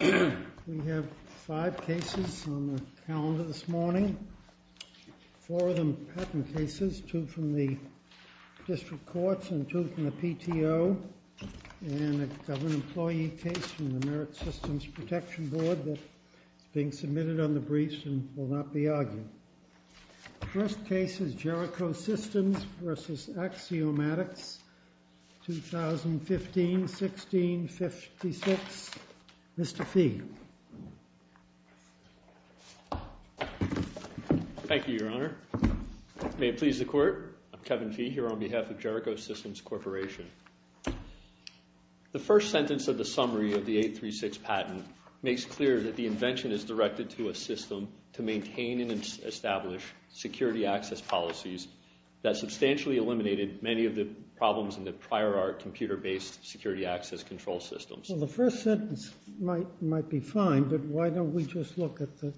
We have five cases on the calendar this morning, four of them patent cases, two from the district courts and two from the PTO, and a government employee case from the Merit Systems Protection Board that is being submitted on the briefs and will not be argued. The first case is Jericho Systems v. Axiomatics, 2015-16-56. Mr. Fee. Thank you, Your Honor. May it please the Court, I'm Kevin Fee here on behalf of Jericho Systems Corporation. The first sentence of the summary of the 836 patent makes clear that the invention is directed to a system to maintain and establish security access policies that substantially eliminated many of the problems in the prior art computer-based security access control systems. Well, the first sentence might be fine, but why don't we just look at the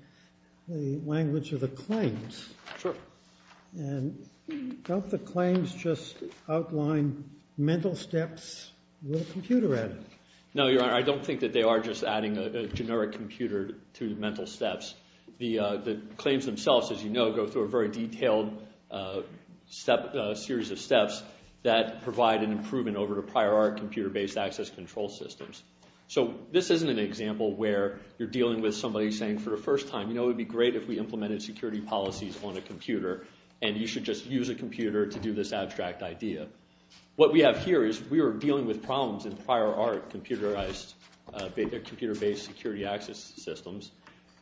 language of the claims? Sure. And don't the claims just outline mental steps with a computer added? No, Your Honor, I don't think that they are just adding a generic computer to mental steps. The claims themselves, as you know, go through a very detailed series of steps that provide an improvement over the prior art computer-based access control systems. So this isn't an example where you're dealing with somebody saying for the first time, you know, it would be great if we implemented security policies on a computer, and you should just use a computer to do this abstract idea. What we have here is we are dealing with problems in prior art computer-based security access systems,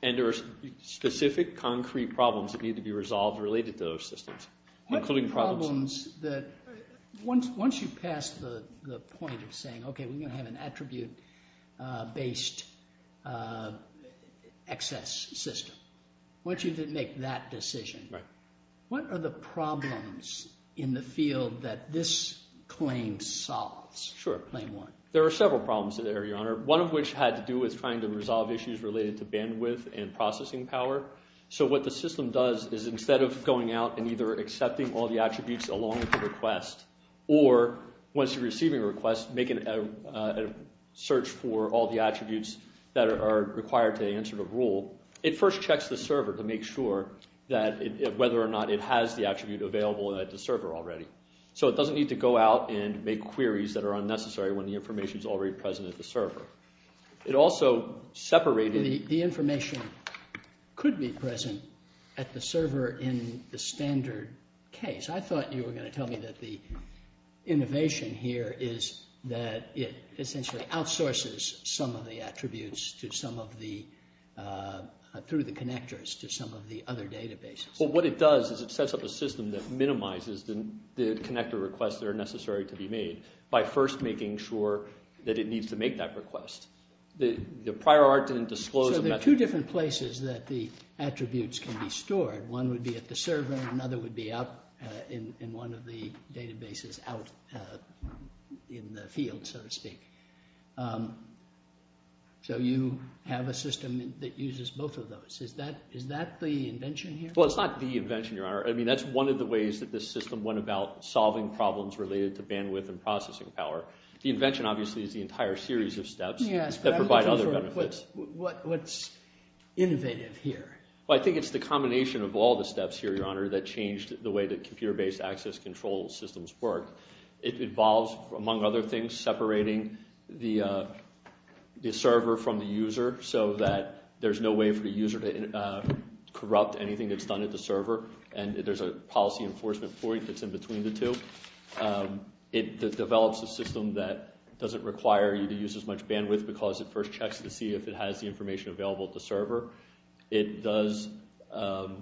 and there are specific concrete problems that need to be resolved related to those systems. What are the problems that, once you pass the point of saying, okay, we're going to have an attribute-based access system, once you make that decision, what are the problems in the field that this claim solves? Sure. There are several problems there, Your Honor, one of which had to do with trying to resolve issues related to bandwidth and processing power. So what the system does is instead of going out and either accepting all the attributes along with the request, or once you're receiving a request, make a search for all the attributes that are required to answer the rule, it first checks the server to make sure that whether or not it has the attribute available at the server already. So it doesn't need to go out and make queries that are unnecessary when the information is already present at the server. The information could be present at the server in the standard case. I thought you were going to tell me that the innovation here is that it essentially outsources some of the attributes through the connectors to some of the other databases. Well, what it does is it sets up a system that minimizes the connector requests that are necessary to be made by first making sure that it needs to make that request. So there are two different places that the attributes can be stored. One would be at the server and another would be out in one of the databases out in the field, so to speak. So you have a system that uses both of those. Is that the invention here? Well, it's not the invention, Your Honor. I mean, that's one of the ways that this system went about solving problems related to bandwidth and processing power. The invention, obviously, is the entire series of steps that provide other benefits. What's innovative here? Well, I think it's the combination of all the steps here, Your Honor, that changed the way that computer-based access control systems work. It involves, among other things, separating the server from the user so that there's no way for the user to corrupt anything that's done at the server and there's a policy enforcement point that's in between the two. It develops a system that doesn't require you to use as much bandwidth because it first checks to see if it has the information available at the server. It does. We had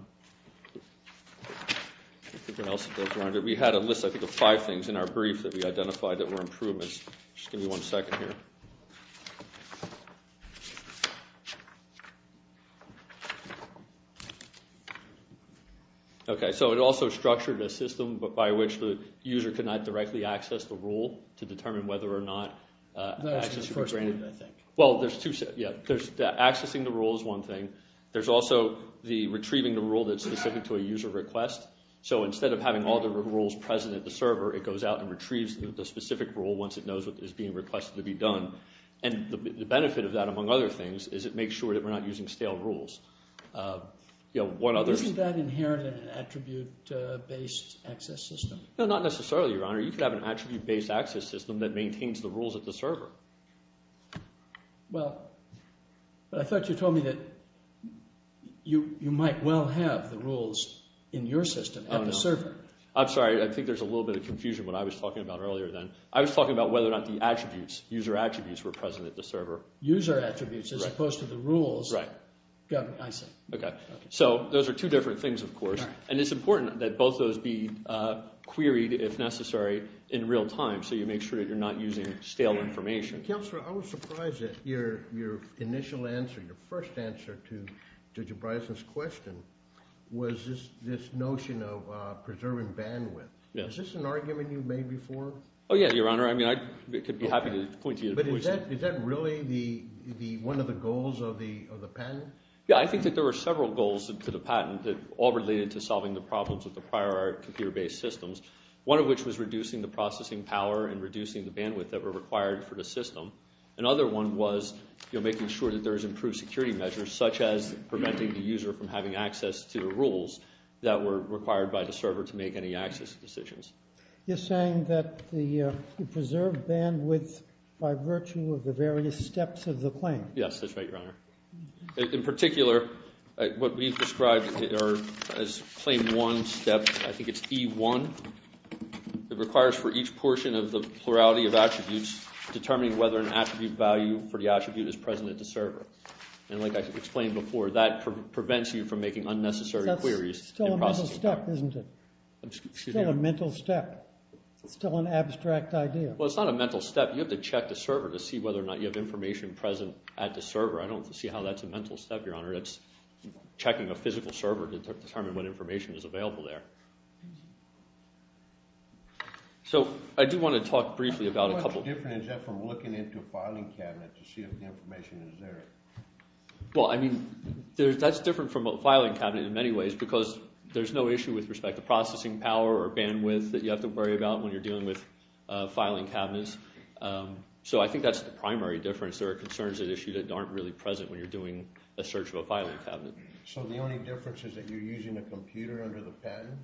a list, I think, of five things in our brief that we identified that were improvements. Just give me one second here. Okay, so it also structured a system by which the user could not directly access the rule to determine whether or not access should be granted, I think. Well, accessing the rule is one thing. There's also retrieving the rule that's specific to a user request. So instead of having all the rules present at the server, it goes out and retrieves the specific rule once it knows what is being requested to be done. And the benefit of that, among other things, is it makes sure that we're not using stale rules. Isn't that inherent in an attribute-based access system? No, not necessarily, Your Honor. You could have an attribute-based access system that maintains the rules at the server. Well, I thought you told me that you might well have the rules in your system at the server. I'm sorry. I think there's a little bit of confusion what I was talking about earlier then. I was talking about whether or not the attributes, user attributes, were present at the server. User attributes as opposed to the rules. Right. I see. Okay. So those are two different things, of course. And it's important that both of those be queried, if necessary, in real time so you make sure that you're not using stale information. Counselor, I was surprised at your initial answer, your first answer to Mr. Bryson's question, was this notion of preserving bandwidth. Is this an argument you've made before? Oh, yeah, Your Honor. I mean I could be happy to point to you in a voice. But is that really one of the goals of the patent? Yeah, I think that there were several goals to the patent that all related to solving the problems with the prior computer-based systems. One of which was reducing the processing power and reducing the bandwidth that were required for the system. Another one was making sure that there was improved security measures, such as preventing the user from having access to the rules that were required by the server to make any access decisions. You're saying that you preserved bandwidth by virtue of the various steps of the claim. Yes, that's right, Your Honor. In particular, what we've described as claim one step, I think it's E1. It requires for each portion of the plurality of attributes, determining whether an attribute value for the attribute is present at the server. And like I explained before, that prevents you from making unnecessary queries. That's still a mental step, isn't it? Still a mental step. It's still an abstract idea. Well, it's not a mental step. You have to check the server to see whether or not you have information present at the server. I don't see how that's a mental step, Your Honor. That's checking a physical server to determine what information is available there. So I do want to talk briefly about a couple of things. How much different is that from looking into a filing cabinet to see if the information is there? Well, I mean, that's different from a filing cabinet in many ways because there's no issue with respect to processing power or bandwidth that you have to worry about when you're dealing with filing cabinets. So I think that's the primary difference. There are concerns at issue that aren't really present when you're doing a search of a filing cabinet. So the only difference is that you're using a computer under the pen?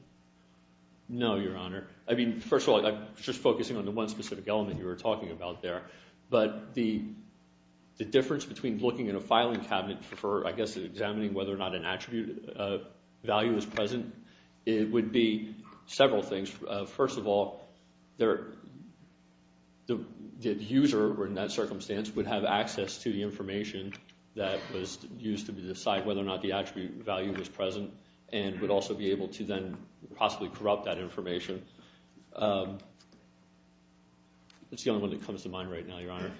No, Your Honor. I mean, first of all, I'm just focusing on the one specific element you were talking about there. But the difference between looking in a filing cabinet for, I guess, examining whether or not an attribute value is present would be several things. First of all, the user in that circumstance would have access to the information that was used to decide whether or not the attribute value was present and would also be able to then possibly corrupt that information. That's the only one that comes to mind right now, Your Honor.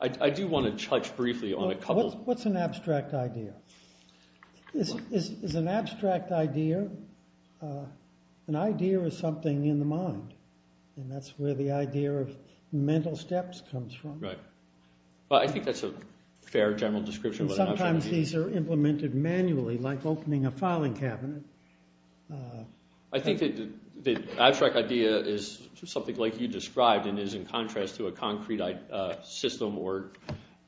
I do want to touch briefly on a couple of things. What's an abstract idea? Is an abstract idea an idea or something in the mind? And that's where the idea of mental steps comes from. Right. I think that's a fair general description. Sometimes these are implemented manually, like opening a filing cabinet. I think the abstract idea is something like you described and is in contrast to a concrete system.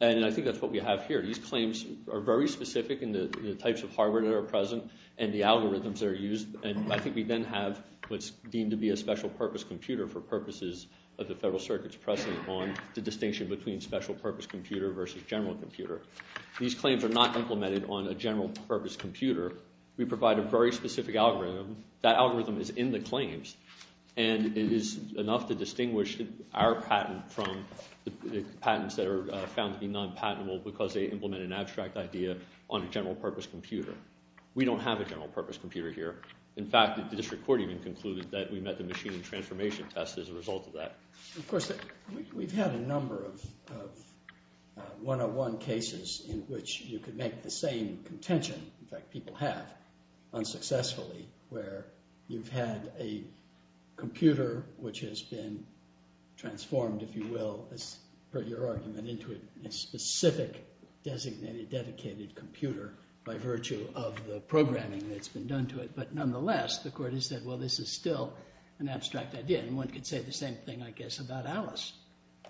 And I think that's what we have here. These claims are very specific in the types of hardware that are present and the algorithms that are used. And I think we then have what's deemed to be a special purpose computer for purposes of the Federal Circuit's precedent on the distinction between special purpose computer versus general computer. These claims are not implemented on a general purpose computer. We provide a very specific algorithm. That algorithm is in the claims. And it is enough to distinguish our patent from the patents that are found to be non-patentable because they implement an abstract idea on a general purpose computer. We don't have a general purpose computer here. In fact, the district court even concluded that we met the machine transformation test as a result of that. Of course, we've had a number of one-on-one cases in which you could make the same contention. In fact, people have unsuccessfully where you've had a computer which has been transformed, if you will, as per your argument, into a specific designated, dedicated computer by virtue of the programming that's been done to it. But nonetheless, the court has said, well, this is still an abstract idea. And one could say the same thing, I guess, about Alice.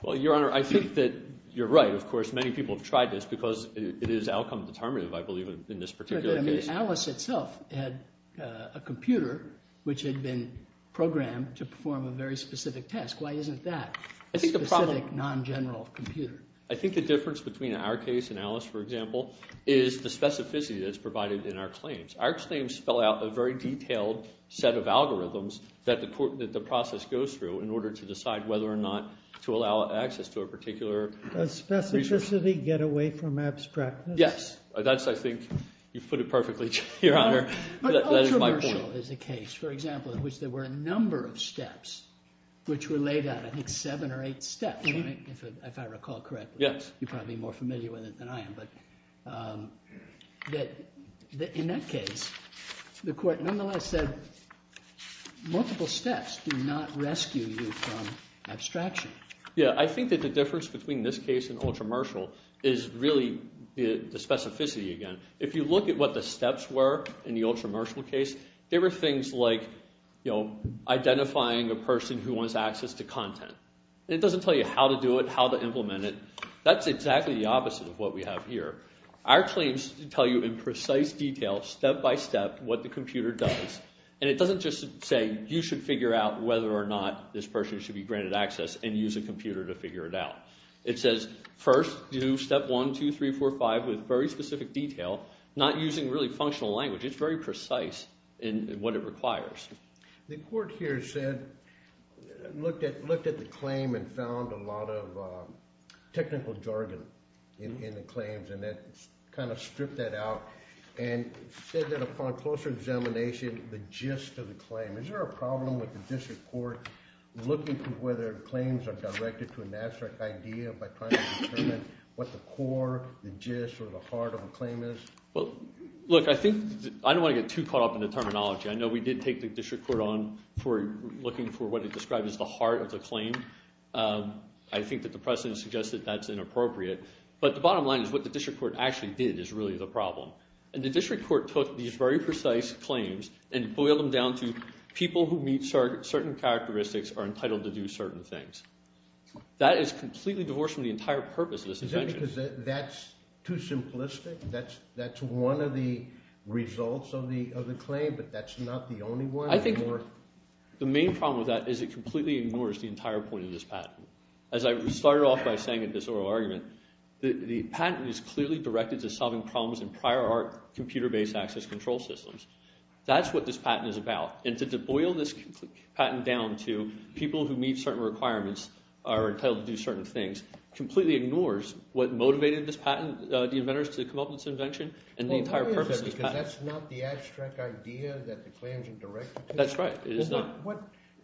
Well, Your Honor, I think that you're right. Of course, many people have tried this because it is outcome determinative, I believe, in this particular case. But I mean Alice itself had a computer which had been programmed to perform a very specific test. Why isn't that a specific, non-general computer? I think the difference between our case and Alice, for example, is the specificity that's provided in our claims. Our claims spell out a very detailed set of algorithms that the process goes through in order to decide whether or not to allow access to a particular resource. Does specificity get away from abstractness? Yes. That's, I think, you've put it perfectly, Your Honor. That is my point. But controversial is the case, for example, in which there were a number of steps which were laid out, I think seven or eight steps, if I recall correctly. Yes. You're probably more familiar with it than I am. But in that case, the court nonetheless said multiple steps do not rescue you from abstraction. Yes. I think that the difference between this case and Ultra-Marshall is really the specificity again. If you look at what the steps were in the Ultra-Marshall case, there were things like identifying a person who wants access to content. It doesn't tell you how to do it, how to implement it. That's exactly the opposite of what we have here. Our claims tell you in precise detail, step by step, what the computer does. And it doesn't just say you should figure out whether or not this person should be granted access and use a computer to figure it out. It says first do step one, two, three, four, five with very specific detail, not using really functional language. It's very precise in what it requires. The court here said looked at the claim and found a lot of technical jargon in the claims. And it kind of stripped that out and said that upon closer examination, the gist of the claim. Is there a problem with the district court looking to whether claims are directed to an abstract idea by trying to determine what the core, the gist, or the heart of a claim is? Well, look, I think I don't want to get too caught up in the terminology. I know we did take the district court on for looking for what is described as the heart of the claim. I think that the precedent suggests that that's inappropriate. But the bottom line is what the district court actually did is really the problem. And the district court took these very precise claims and boiled them down to people who meet certain characteristics are entitled to do certain things. That is completely divorced from the entire purpose of this invention. Is that because that's too simplistic? That's one of the results of the claim, but that's not the only one? I think the main problem with that is it completely ignores the entire point of this patent. As I started off by saying in this oral argument, the patent is clearly directed to solving problems in prior art computer-based access control systems. That's what this patent is about. And to boil this patent down to people who meet certain requirements are entitled to do certain things completely ignores what motivated the inventors to come up with this invention and the entire purpose of this patent. Well, why is that? Because that's not the abstract idea that the claims are directed to? That's right.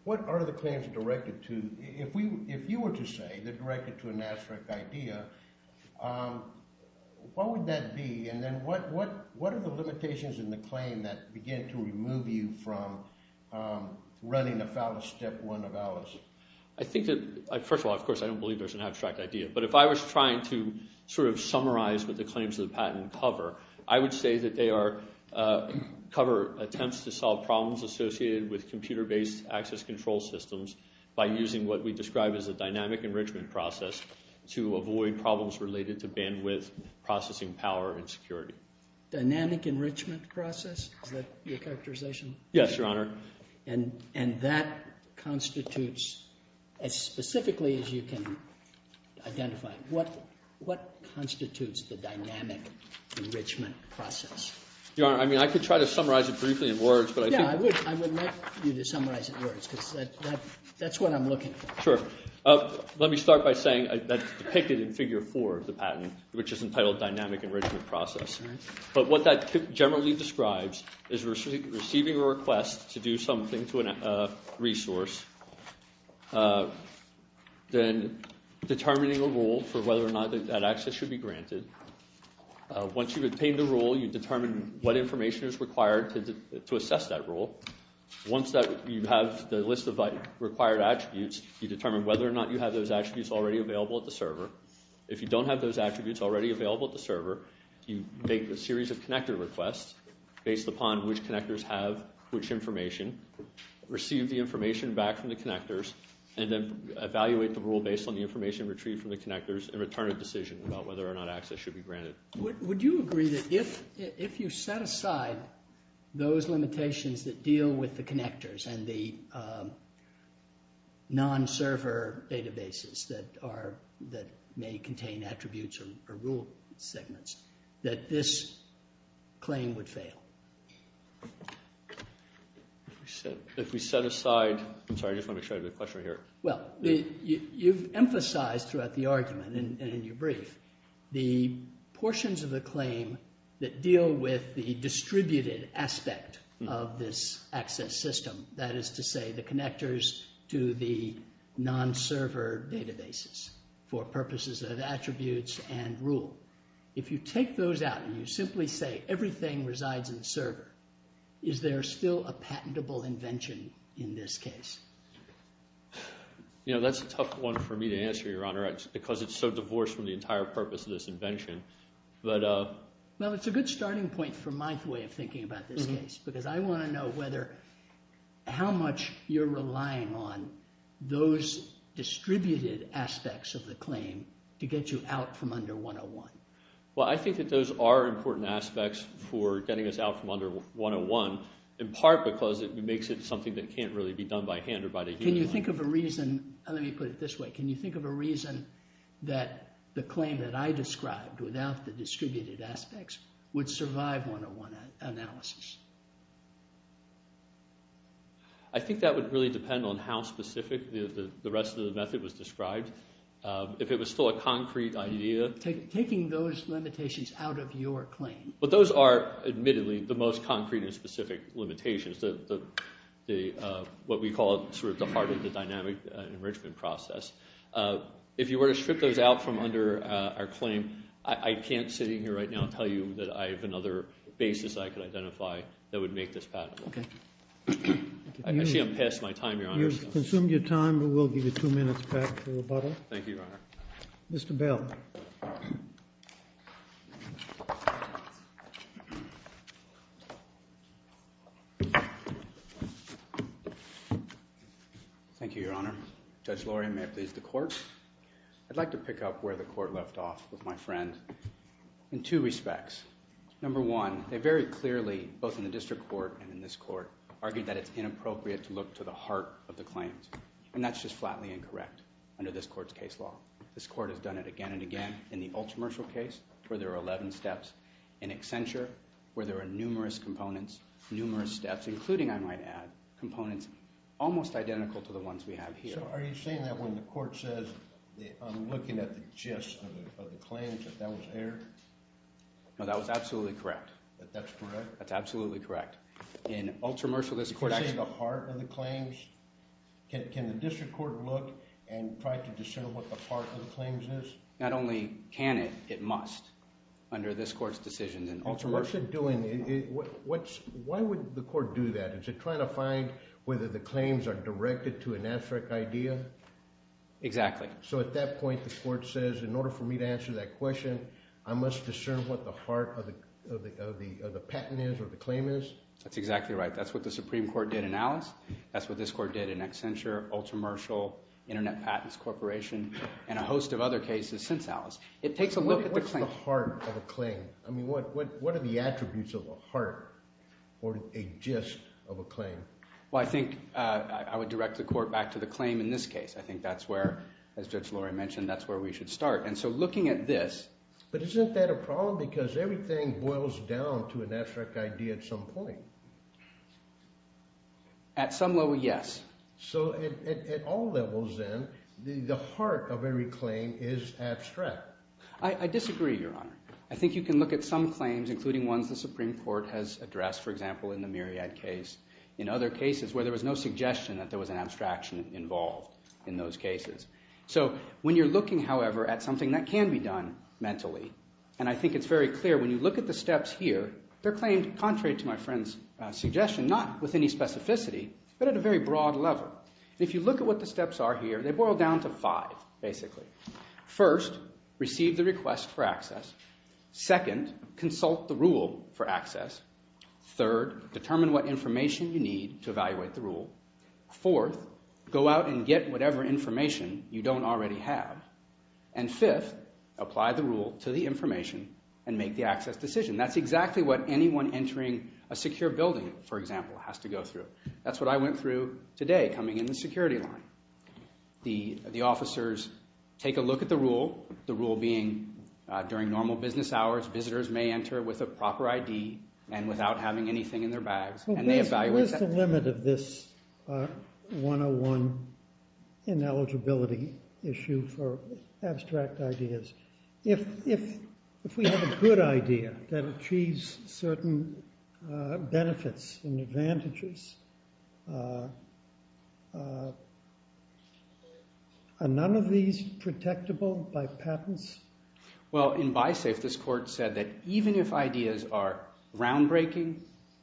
What are the claims directed to? If you were to say they're directed to an abstract idea, what would that be? And then what are the limitations in the claim that begin to remove you from running a fallacious step one of Alice? I think that – first of all, of course, I don't believe there's an abstract idea. But if I was trying to sort of summarize what the claims of the patent cover, I would say that they are – cover attempts to solve problems associated with computer-based access control systems by using what we describe as a dynamic enrichment process to avoid problems related to bandwidth, processing power, and security. Dynamic enrichment process? Is that your characterization? Yes, Your Honor. And that constitutes – as specifically as you can identify, what constitutes the dynamic enrichment process? Your Honor, I mean I could try to summarize it briefly in words, but I think – Yeah, I would like you to summarize it in words because that's what I'm looking for. Sure. Let me start by saying that's depicted in figure four of the patent, which is entitled dynamic enrichment process. But what that generally describes is receiving a request to do something to a resource, then determining a rule for whether or not that access should be granted. Once you've obtained the rule, you determine what information is required to assess that rule. Once you have the list of required attributes, you determine whether or not you have those attributes already available at the server. If you don't have those attributes already available at the server, you make a series of connector requests based upon which connectors have which information, receive the information back from the connectors, and then evaluate the rule based on the information retrieved from the connectors and return a decision about whether or not access should be granted. Would you agree that if you set aside those limitations that deal with the connectors and the non-server databases that may contain attributes or rule segments, that this claim would fail? If we set aside – I'm sorry, I just wanted to make sure I had the question right here. Well, you've emphasized throughout the argument and in your brief the portions of the claim that deal with the distributed aspect of this access system. That is to say the connectors to the non-server databases for purposes of attributes and rule. If you take those out and you simply say everything resides in the server, is there still a patentable invention in this case? You know, that's a tough one for me to answer, Your Honor, because it's so divorced from the entire purpose of this invention. Well, it's a good starting point for my way of thinking about this case because I want to know whether – how much you're relying on those distributed aspects of the claim to get you out from under 101. Well, I think that those are important aspects for getting us out from under 101 in part because it makes it something that can't really be done by hand or by the human mind. Can you think of a reason – let me put it this way – can you think of a reason that the claim that I described without the distributed aspects would survive 101 analysis? I think that would really depend on how specific the rest of the method was described. If it was still a concrete idea – Taking those limitations out of your claim. But those are, admittedly, the most concrete and specific limitations, what we call sort of the heart of the dynamic enrichment process. If you were to strip those out from under our claim, I can't, sitting here right now, tell you that I have another basis I could identify that would make this patentable. I see I'm past my time, Your Honor. You've consumed your time, but we'll give you two minutes back for rebuttal. Thank you, Your Honor. Mr. Bell. Thank you, Your Honor. Judge Lori, may it please the court. I'd like to pick up where the court left off with my friend in two respects. Number one, they very clearly, both in the district court and in this court, argued that it's inappropriate to look to the heart of the claims. And that's just flatly incorrect under this court's case law. This court has done it again and again. In the Ultramershal case, where there are 11 steps. In Accenture, where there are numerous components, numerous steps, including, I might add, components almost identical to the ones we have here. So are you saying that when the court says, I'm looking at the gist of the claims, that that was error? No, that was absolutely correct. That that's correct? That's absolutely correct. In Ultramershal, this court actually – Can you say the heart of the claims? Can the district court look and try to discern what the heart of the claims is? Not only can it, it must, under this court's decisions in Ultramershal. What's it doing? Why would the court do that? Is it trying to find whether the claims are directed to an abstract idea? Exactly. So at that point, the court says, in order for me to answer that question, I must discern what the heart of the patent is or the claim is? That's exactly right. That's what the Supreme Court did in Alice. That's what this court did in Accenture, Ultramershal, Internet Patents Corporation, and a host of other cases since Alice. It takes a look at the claim. What's the heart of a claim? I mean, what are the attributes of a heart or a gist of a claim? Well, I think I would direct the court back to the claim in this case. I think that's where, as Judge Lori mentioned, that's where we should start. And so looking at this – But isn't that a problem? Because everything boils down to an abstract idea at some point. At some level, yes. So at all levels, then, the heart of every claim is abstract. I disagree, Your Honor. I think you can look at some claims, including ones the Supreme Court has addressed, for example, in the Myriad case, in other cases where there was no suggestion that there was an abstraction involved in those cases. So when you're looking, however, at something that can be done mentally, and I think it's very clear when you look at the steps here, they're claimed contrary to my friend's suggestion, not with any specificity, but at a very broad level. If you look at what the steps are here, they boil down to five, basically. First, receive the request for access. Second, consult the rule for access. Third, determine what information you need to evaluate the rule. Fourth, go out and get whatever information you don't already have. And fifth, apply the rule to the information and make the access decision. That's exactly what anyone entering a secure building, for example, has to go through. That's what I went through today coming in the security line. The officers take a look at the rule, the rule being during normal business hours, visitors may enter with a proper ID and without having anything in their bags, and they evaluate that. What's the limit of this 101 ineligibility issue for abstract ideas? If we have a good idea that achieves certain benefits and advantages, are none of these protectable by patents? Well, in BISAFE, this court said that even if ideas are groundbreaking,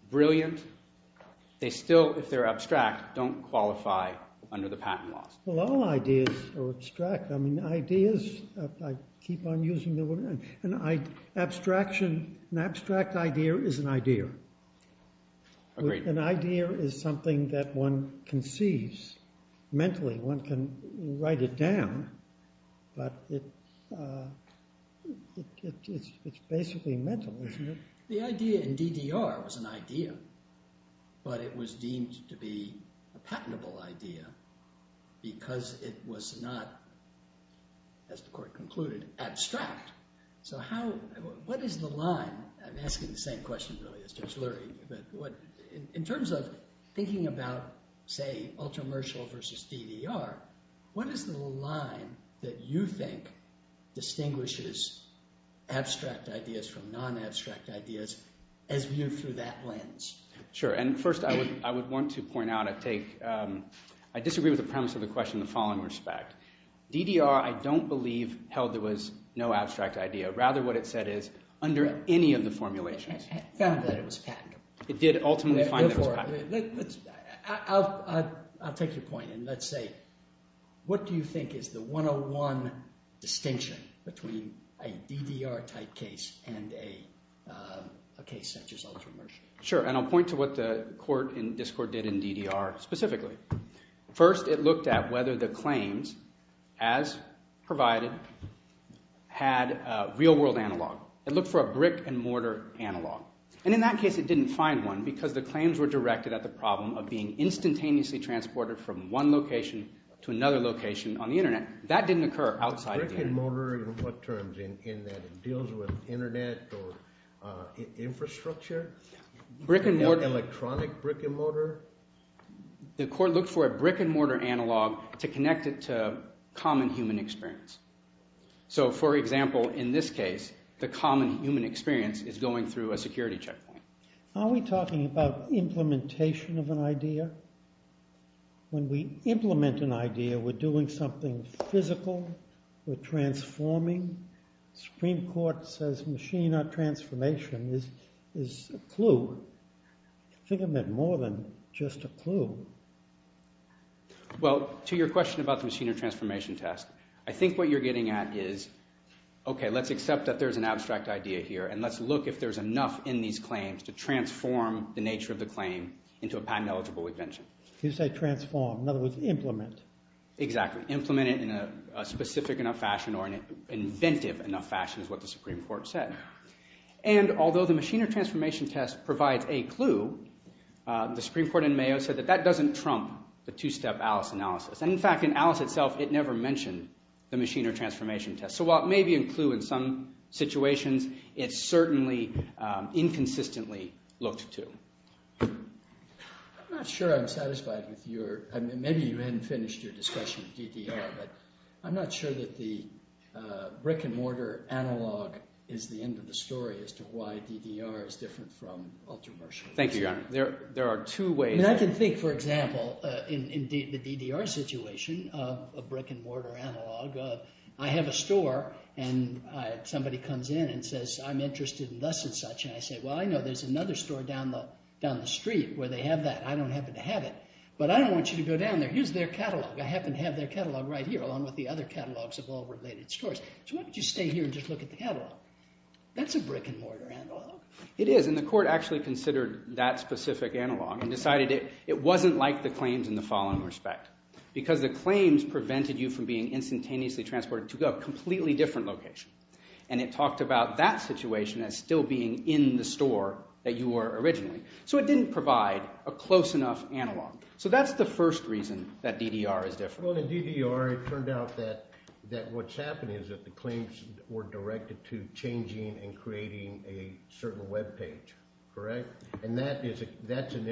brilliant, they still, if they're abstract, don't qualify under the patent laws. Well, all ideas are abstract. I mean, ideas, I keep on using the word. An abstraction, an abstract idea is an idea. Agreed. An idea is something that one conceives mentally. One can write it down, but it's basically mental, isn't it? The idea in DDR was an idea, but it was deemed to be a patentable idea because it was not, as the court concluded, abstract. So what is the line? I'm asking the same question, really, as Judge Lurie. In terms of thinking about, say, ultra-mercial versus DDR, what is the line that you think distinguishes abstract ideas from non-abstract ideas as viewed through that lens? Sure, and first I would want to point out, I take – I disagree with the premise of the question in the following respect. DDR, I don't believe, held there was no abstract idea. Rather, what it said is under any of the formulations. It found that it was patentable. It did ultimately find that it was patentable. I'll take your point, and let's say, what do you think is the 101 distinction between a DDR-type case and a case such as ultra-mercial? Sure, and I'll point to what the court in this court did in DDR specifically. First, it looked at whether the claims, as provided, had real-world analog. It looked for a brick-and-mortar analog, and in that case it didn't find one because the claims were directed at the problem of being instantaneously transported from one location to another location on the internet. That didn't occur outside the internet. Brick-and-mortar in what terms? In that it deals with internet or infrastructure? Brick-and-mortar. Electronic brick-and-mortar? The court looked for a brick-and-mortar analog to connect it to common human experience. So, for example, in this case, the common human experience is going through a security checkpoint. Are we talking about implementation of an idea? When we implement an idea, we're doing something physical. We're transforming. The Supreme Court says machine transformation is a clue. I think it meant more than just a clue. Well, to your question about the machine or transformation test, I think what you're getting at is, okay, let's accept that there's an abstract idea here, and let's look if there's enough in these claims to transform the nature of the claim into a patent-eligible invention. You say transform. In other words, implement. Exactly. Implement it in a specific enough fashion or an inventive enough fashion is what the Supreme Court said. And although the machine or transformation test provides a clue, the Supreme Court in Mayo said that that doesn't trump the two-step Alice analysis. And, in fact, in Alice itself, it never mentioned the machine or transformation test. So while it may be a clue in some situations, it's certainly inconsistently looked to. I'm not sure I'm satisfied with your – maybe you hadn't finished your discussion of DDR, but I'm not sure that the brick-and-mortar analog is the end of the story as to why DDR is different from ultra-martial. Thank you, Your Honor. There are two ways. I mean I can think, for example, in the DDR situation of a brick-and-mortar analog. I have a store, and somebody comes in and says, I'm interested in thus and such. And I say, well, I know there's another store down the street where they have that. I don't happen to have it. But I don't want you to go down there. Here's their catalog. I happen to have their catalog right here along with the other catalogs of all related stores. So why don't you stay here and just look at the catalog? That's a brick-and-mortar analog. It is, and the court actually considered that specific analog and decided it wasn't like the claims in the following respect because the claims prevented you from being instantaneously transported to a completely different location. And it talked about that situation as still being in the store that you were originally. So it didn't provide a close enough analog. So that's the first reason that DDR is different. Well, in DDR, it turned out that what's happening is that the claims were directed to changing and creating a certain web page, correct? And that's an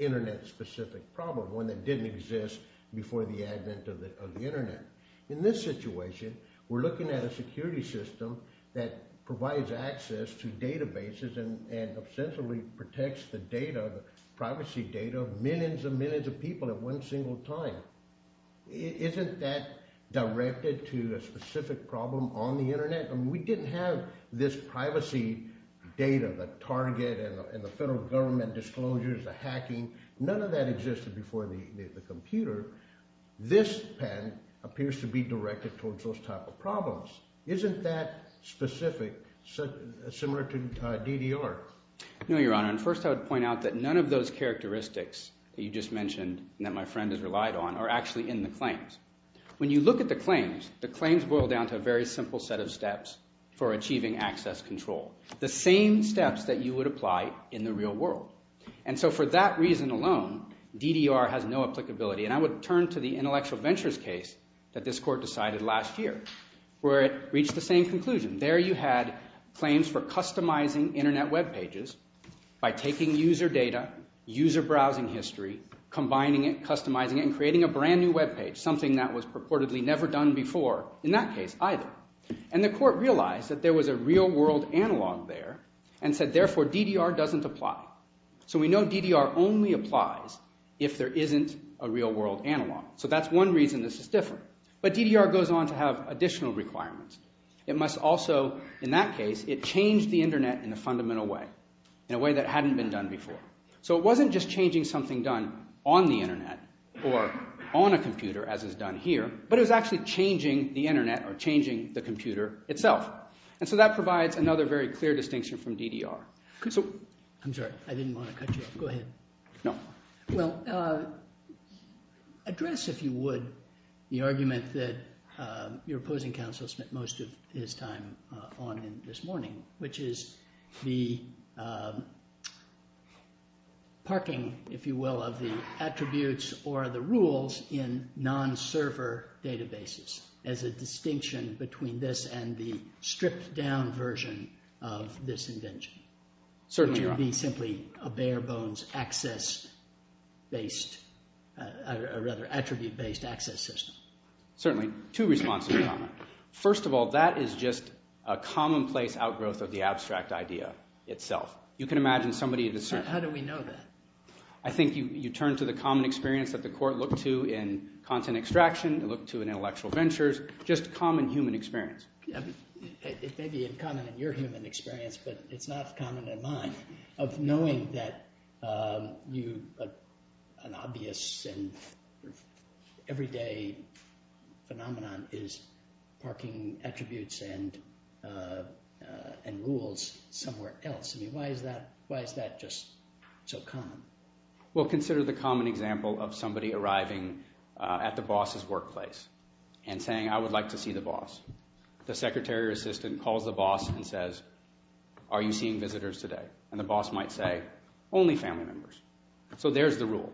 internet-specific problem, one that didn't exist before the advent of the internet. In this situation, we're looking at a security system that provides access to databases and essentially protects the data, the privacy data of millions and millions of people at one single time. Isn't that directed to a specific problem on the internet? I mean, we didn't have this privacy data, the target and the federal government disclosures, the hacking. None of that existed before the computer. This patent appears to be directed towards those type of problems. Isn't that specific, similar to DDR? No, Your Honor, and first I would point out that none of those characteristics that you just mentioned and that my friend has relied on are actually in the claims. When you look at the claims, the claims boil down to a very simple set of steps for achieving access control, the same steps that you would apply in the real world. And so for that reason alone, DDR has no applicability. And I would turn to the intellectual ventures case that this court decided last year where it reached the same conclusion. There you had claims for customizing internet web pages by taking user data, user browsing history, combining it, customizing it, and creating a brand new web page, something that was purportedly never done before in that case either. And the court realized that there was a real world analog there and said therefore DDR doesn't apply. So we know DDR only applies if there isn't a real world analog. So that's one reason this is different. But DDR goes on to have additional requirements. It must also, in that case, it changed the internet in a fundamental way, in a way that hadn't been done before. So it wasn't just changing something done on the internet or on a computer as is done here, but it was actually changing the internet or changing the computer itself. And so that provides another very clear distinction from DDR. I'm sorry. I didn't want to cut you off. Go ahead. No. Well, address, if you would, the argument that your opposing counsel spent most of his time on this morning, which is the parking, if you will, of the attributes or the rules in non-server databases as a distinction between this and the stripped down version of this invention. Certainly. Or could there be simply a bare bones access-based, or rather attribute-based access system? Certainly. Two responses in common. First of all, that is just a commonplace outgrowth of the abstract idea itself. You can imagine somebody in the suit. How do we know that? I think you turn to the common experience that the court looked to in content extraction, it looked to in intellectual ventures, just common human experience. It may be in common in your human experience, but it's not common in mine of knowing that an obvious and everyday phenomenon is parking attributes and rules somewhere else. I mean, why is that just so common? Well, consider the common example of somebody arriving at the boss's workplace and saying, I would like to see the boss. The secretary or assistant calls the boss and says, are you seeing visitors today? And the boss might say, only family members. So there's the rule.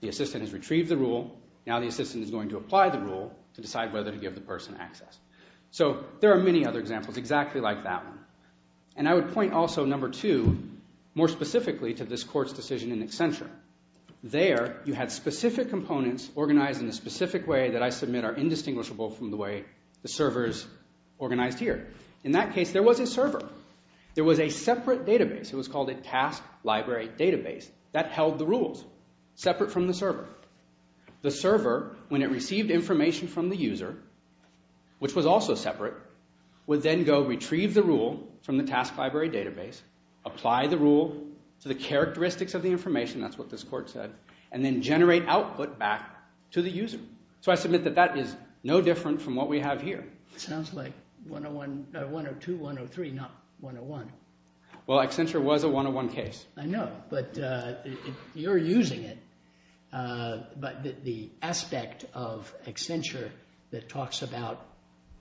The assistant has retrieved the rule. Now the assistant is going to apply the rule to decide whether to give the person access. So there are many other examples exactly like that one. And I would point also, number two, more specifically to this court's decision in Accenture. There, you had specific components organized in a specific way that I submit are indistinguishable from the way the server is organized here. In that case, there was a server. There was a separate database. It was called a task library database that held the rules separate from the server. The server, when it received information from the user, which was also separate, would then go retrieve the rule from the task library database, apply the rule to the characteristics of the information, that's what this court said, and then generate output back to the user. So I submit that that is no different from what we have here. It sounds like 102, 103, not 101. Well, Accenture was a 101 case. I know, but you're using it. But the aspect of Accenture that talks about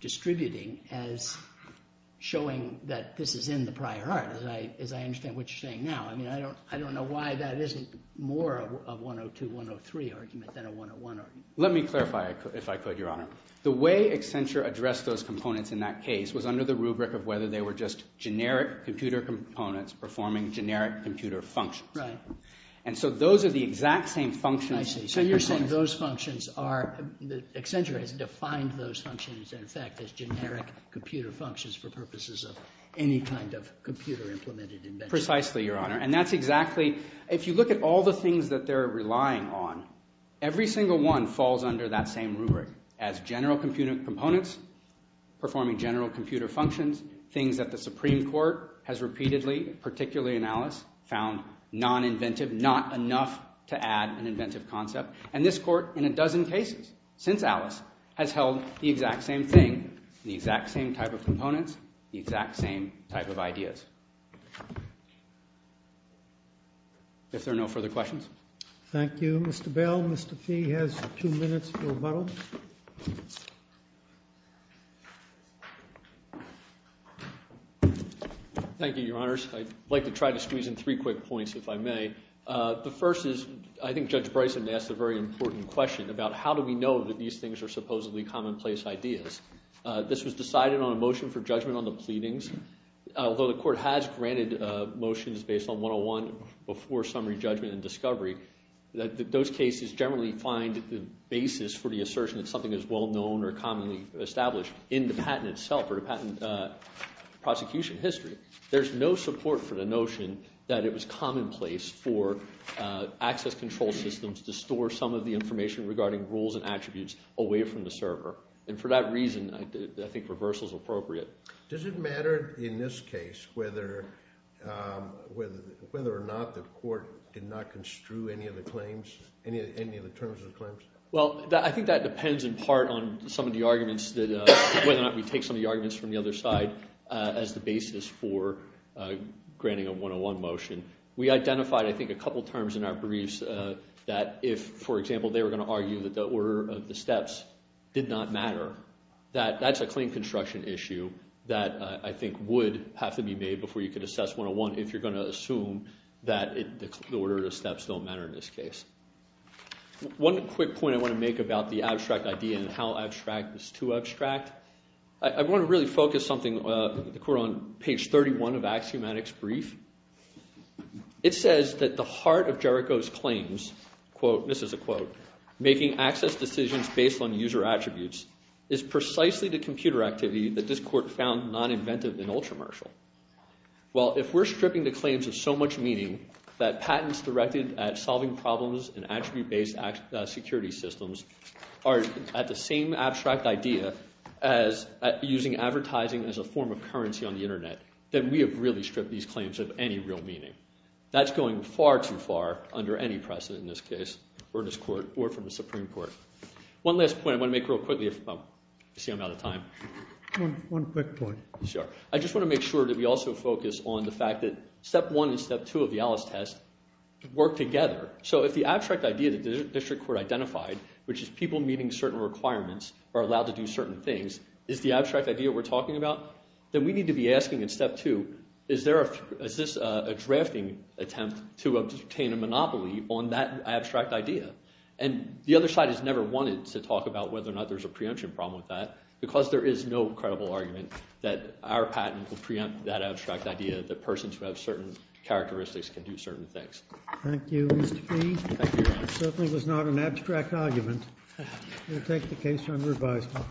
distributing as showing that this is in the prior art, as I understand what you're saying now, I mean, I don't know why that isn't more of a 102, 103 argument than a 101 argument. Let me clarify, if I could, Your Honor. The way Accenture addressed those components in that case was under the rubric of whether they were just generic computer components performing generic computer functions. Right. And so those are the exact same functions. I see. So you're saying those functions are – Accenture has defined those functions, in fact, as generic computer functions for purposes of any kind of computer-implemented invention. Precisely, Your Honor. And that's exactly – if you look at all the things that they're relying on, every single one falls under that same rubric as general components performing general computer functions, things that the Supreme Court has repeatedly, particularly in Alice, found non-inventive, not enough to add an inventive concept. And this Court, in a dozen cases since Alice, has held the exact same thing, the exact same type of components, the exact same type of ideas. If there are no further questions. Thank you. Mr. Bell, Mr. Fee has a few minutes for rebuttal. Thank you, Your Honors. I'd like to try to squeeze in three quick points, if I may. The first is, I think Judge Bryson asked a very important question about how do we know that these things are supposedly commonplace ideas. This was decided on a motion for judgment on the pleadings. Although the Court has granted motions based on 101 before summary judgment and discovery, those cases generally find the basis for the assertion that something is well-known or commonly established in the patent itself or the patent prosecution history. There's no support for the notion that it was commonplace for access control systems to store some of the information regarding rules and attributes away from the server. And for that reason, I think reversal is appropriate. Does it matter in this case whether or not the Court did not construe any of the claims, any of the terms of the claims? Well, I think that depends in part on some of the arguments that whether or not we take some of the arguments from the other side as the basis for granting a 101 motion. We identified, I think, a couple terms in our briefs that if, for example, they were going to argue that the order of the steps did not matter, that that's a claim construction issue that I think would have to be made before you could assess 101 if you're going to assume that the order of the steps don't matter in this case. One quick point I want to make about the abstract idea and how abstract is too abstract. I want to really focus the Court on page 31 of Axiomatic's brief. It says that the heart of Jericho's claims, quote, this is a quote, making access decisions based on user attributes is precisely the computer activity that this Court found non-inventive and ultra-martial. Well, if we're stripping the claims of so much meaning that patents directed at solving problems in attribute-based security systems are at the same abstract idea as using advertising as a form of currency on the Internet, then we have really stripped these claims of any real meaning. That's going far too far under any precedent in this case or from the Supreme Court. One last point I want to make real quickly if I'm out of time. One quick point. Sure. I just want to make sure that we also focus on the fact that Step 1 and Step 2 of the Alice test work together. So if the abstract idea that the district court identified, which is people meeting certain requirements are allowed to do certain things, is the abstract idea we're talking about, then we need to be asking in Step 2, is this a drafting attempt to obtain a monopoly on that abstract idea? And the other side has never wanted to talk about whether or not there's a preemption problem with that because there is no credible argument that our patent will preempt that abstract idea that persons who have certain characteristics can do certain things. Thank you, Mr. P. Thank you, Your Honor. It certainly was not an abstract argument. We'll take the case under advisement.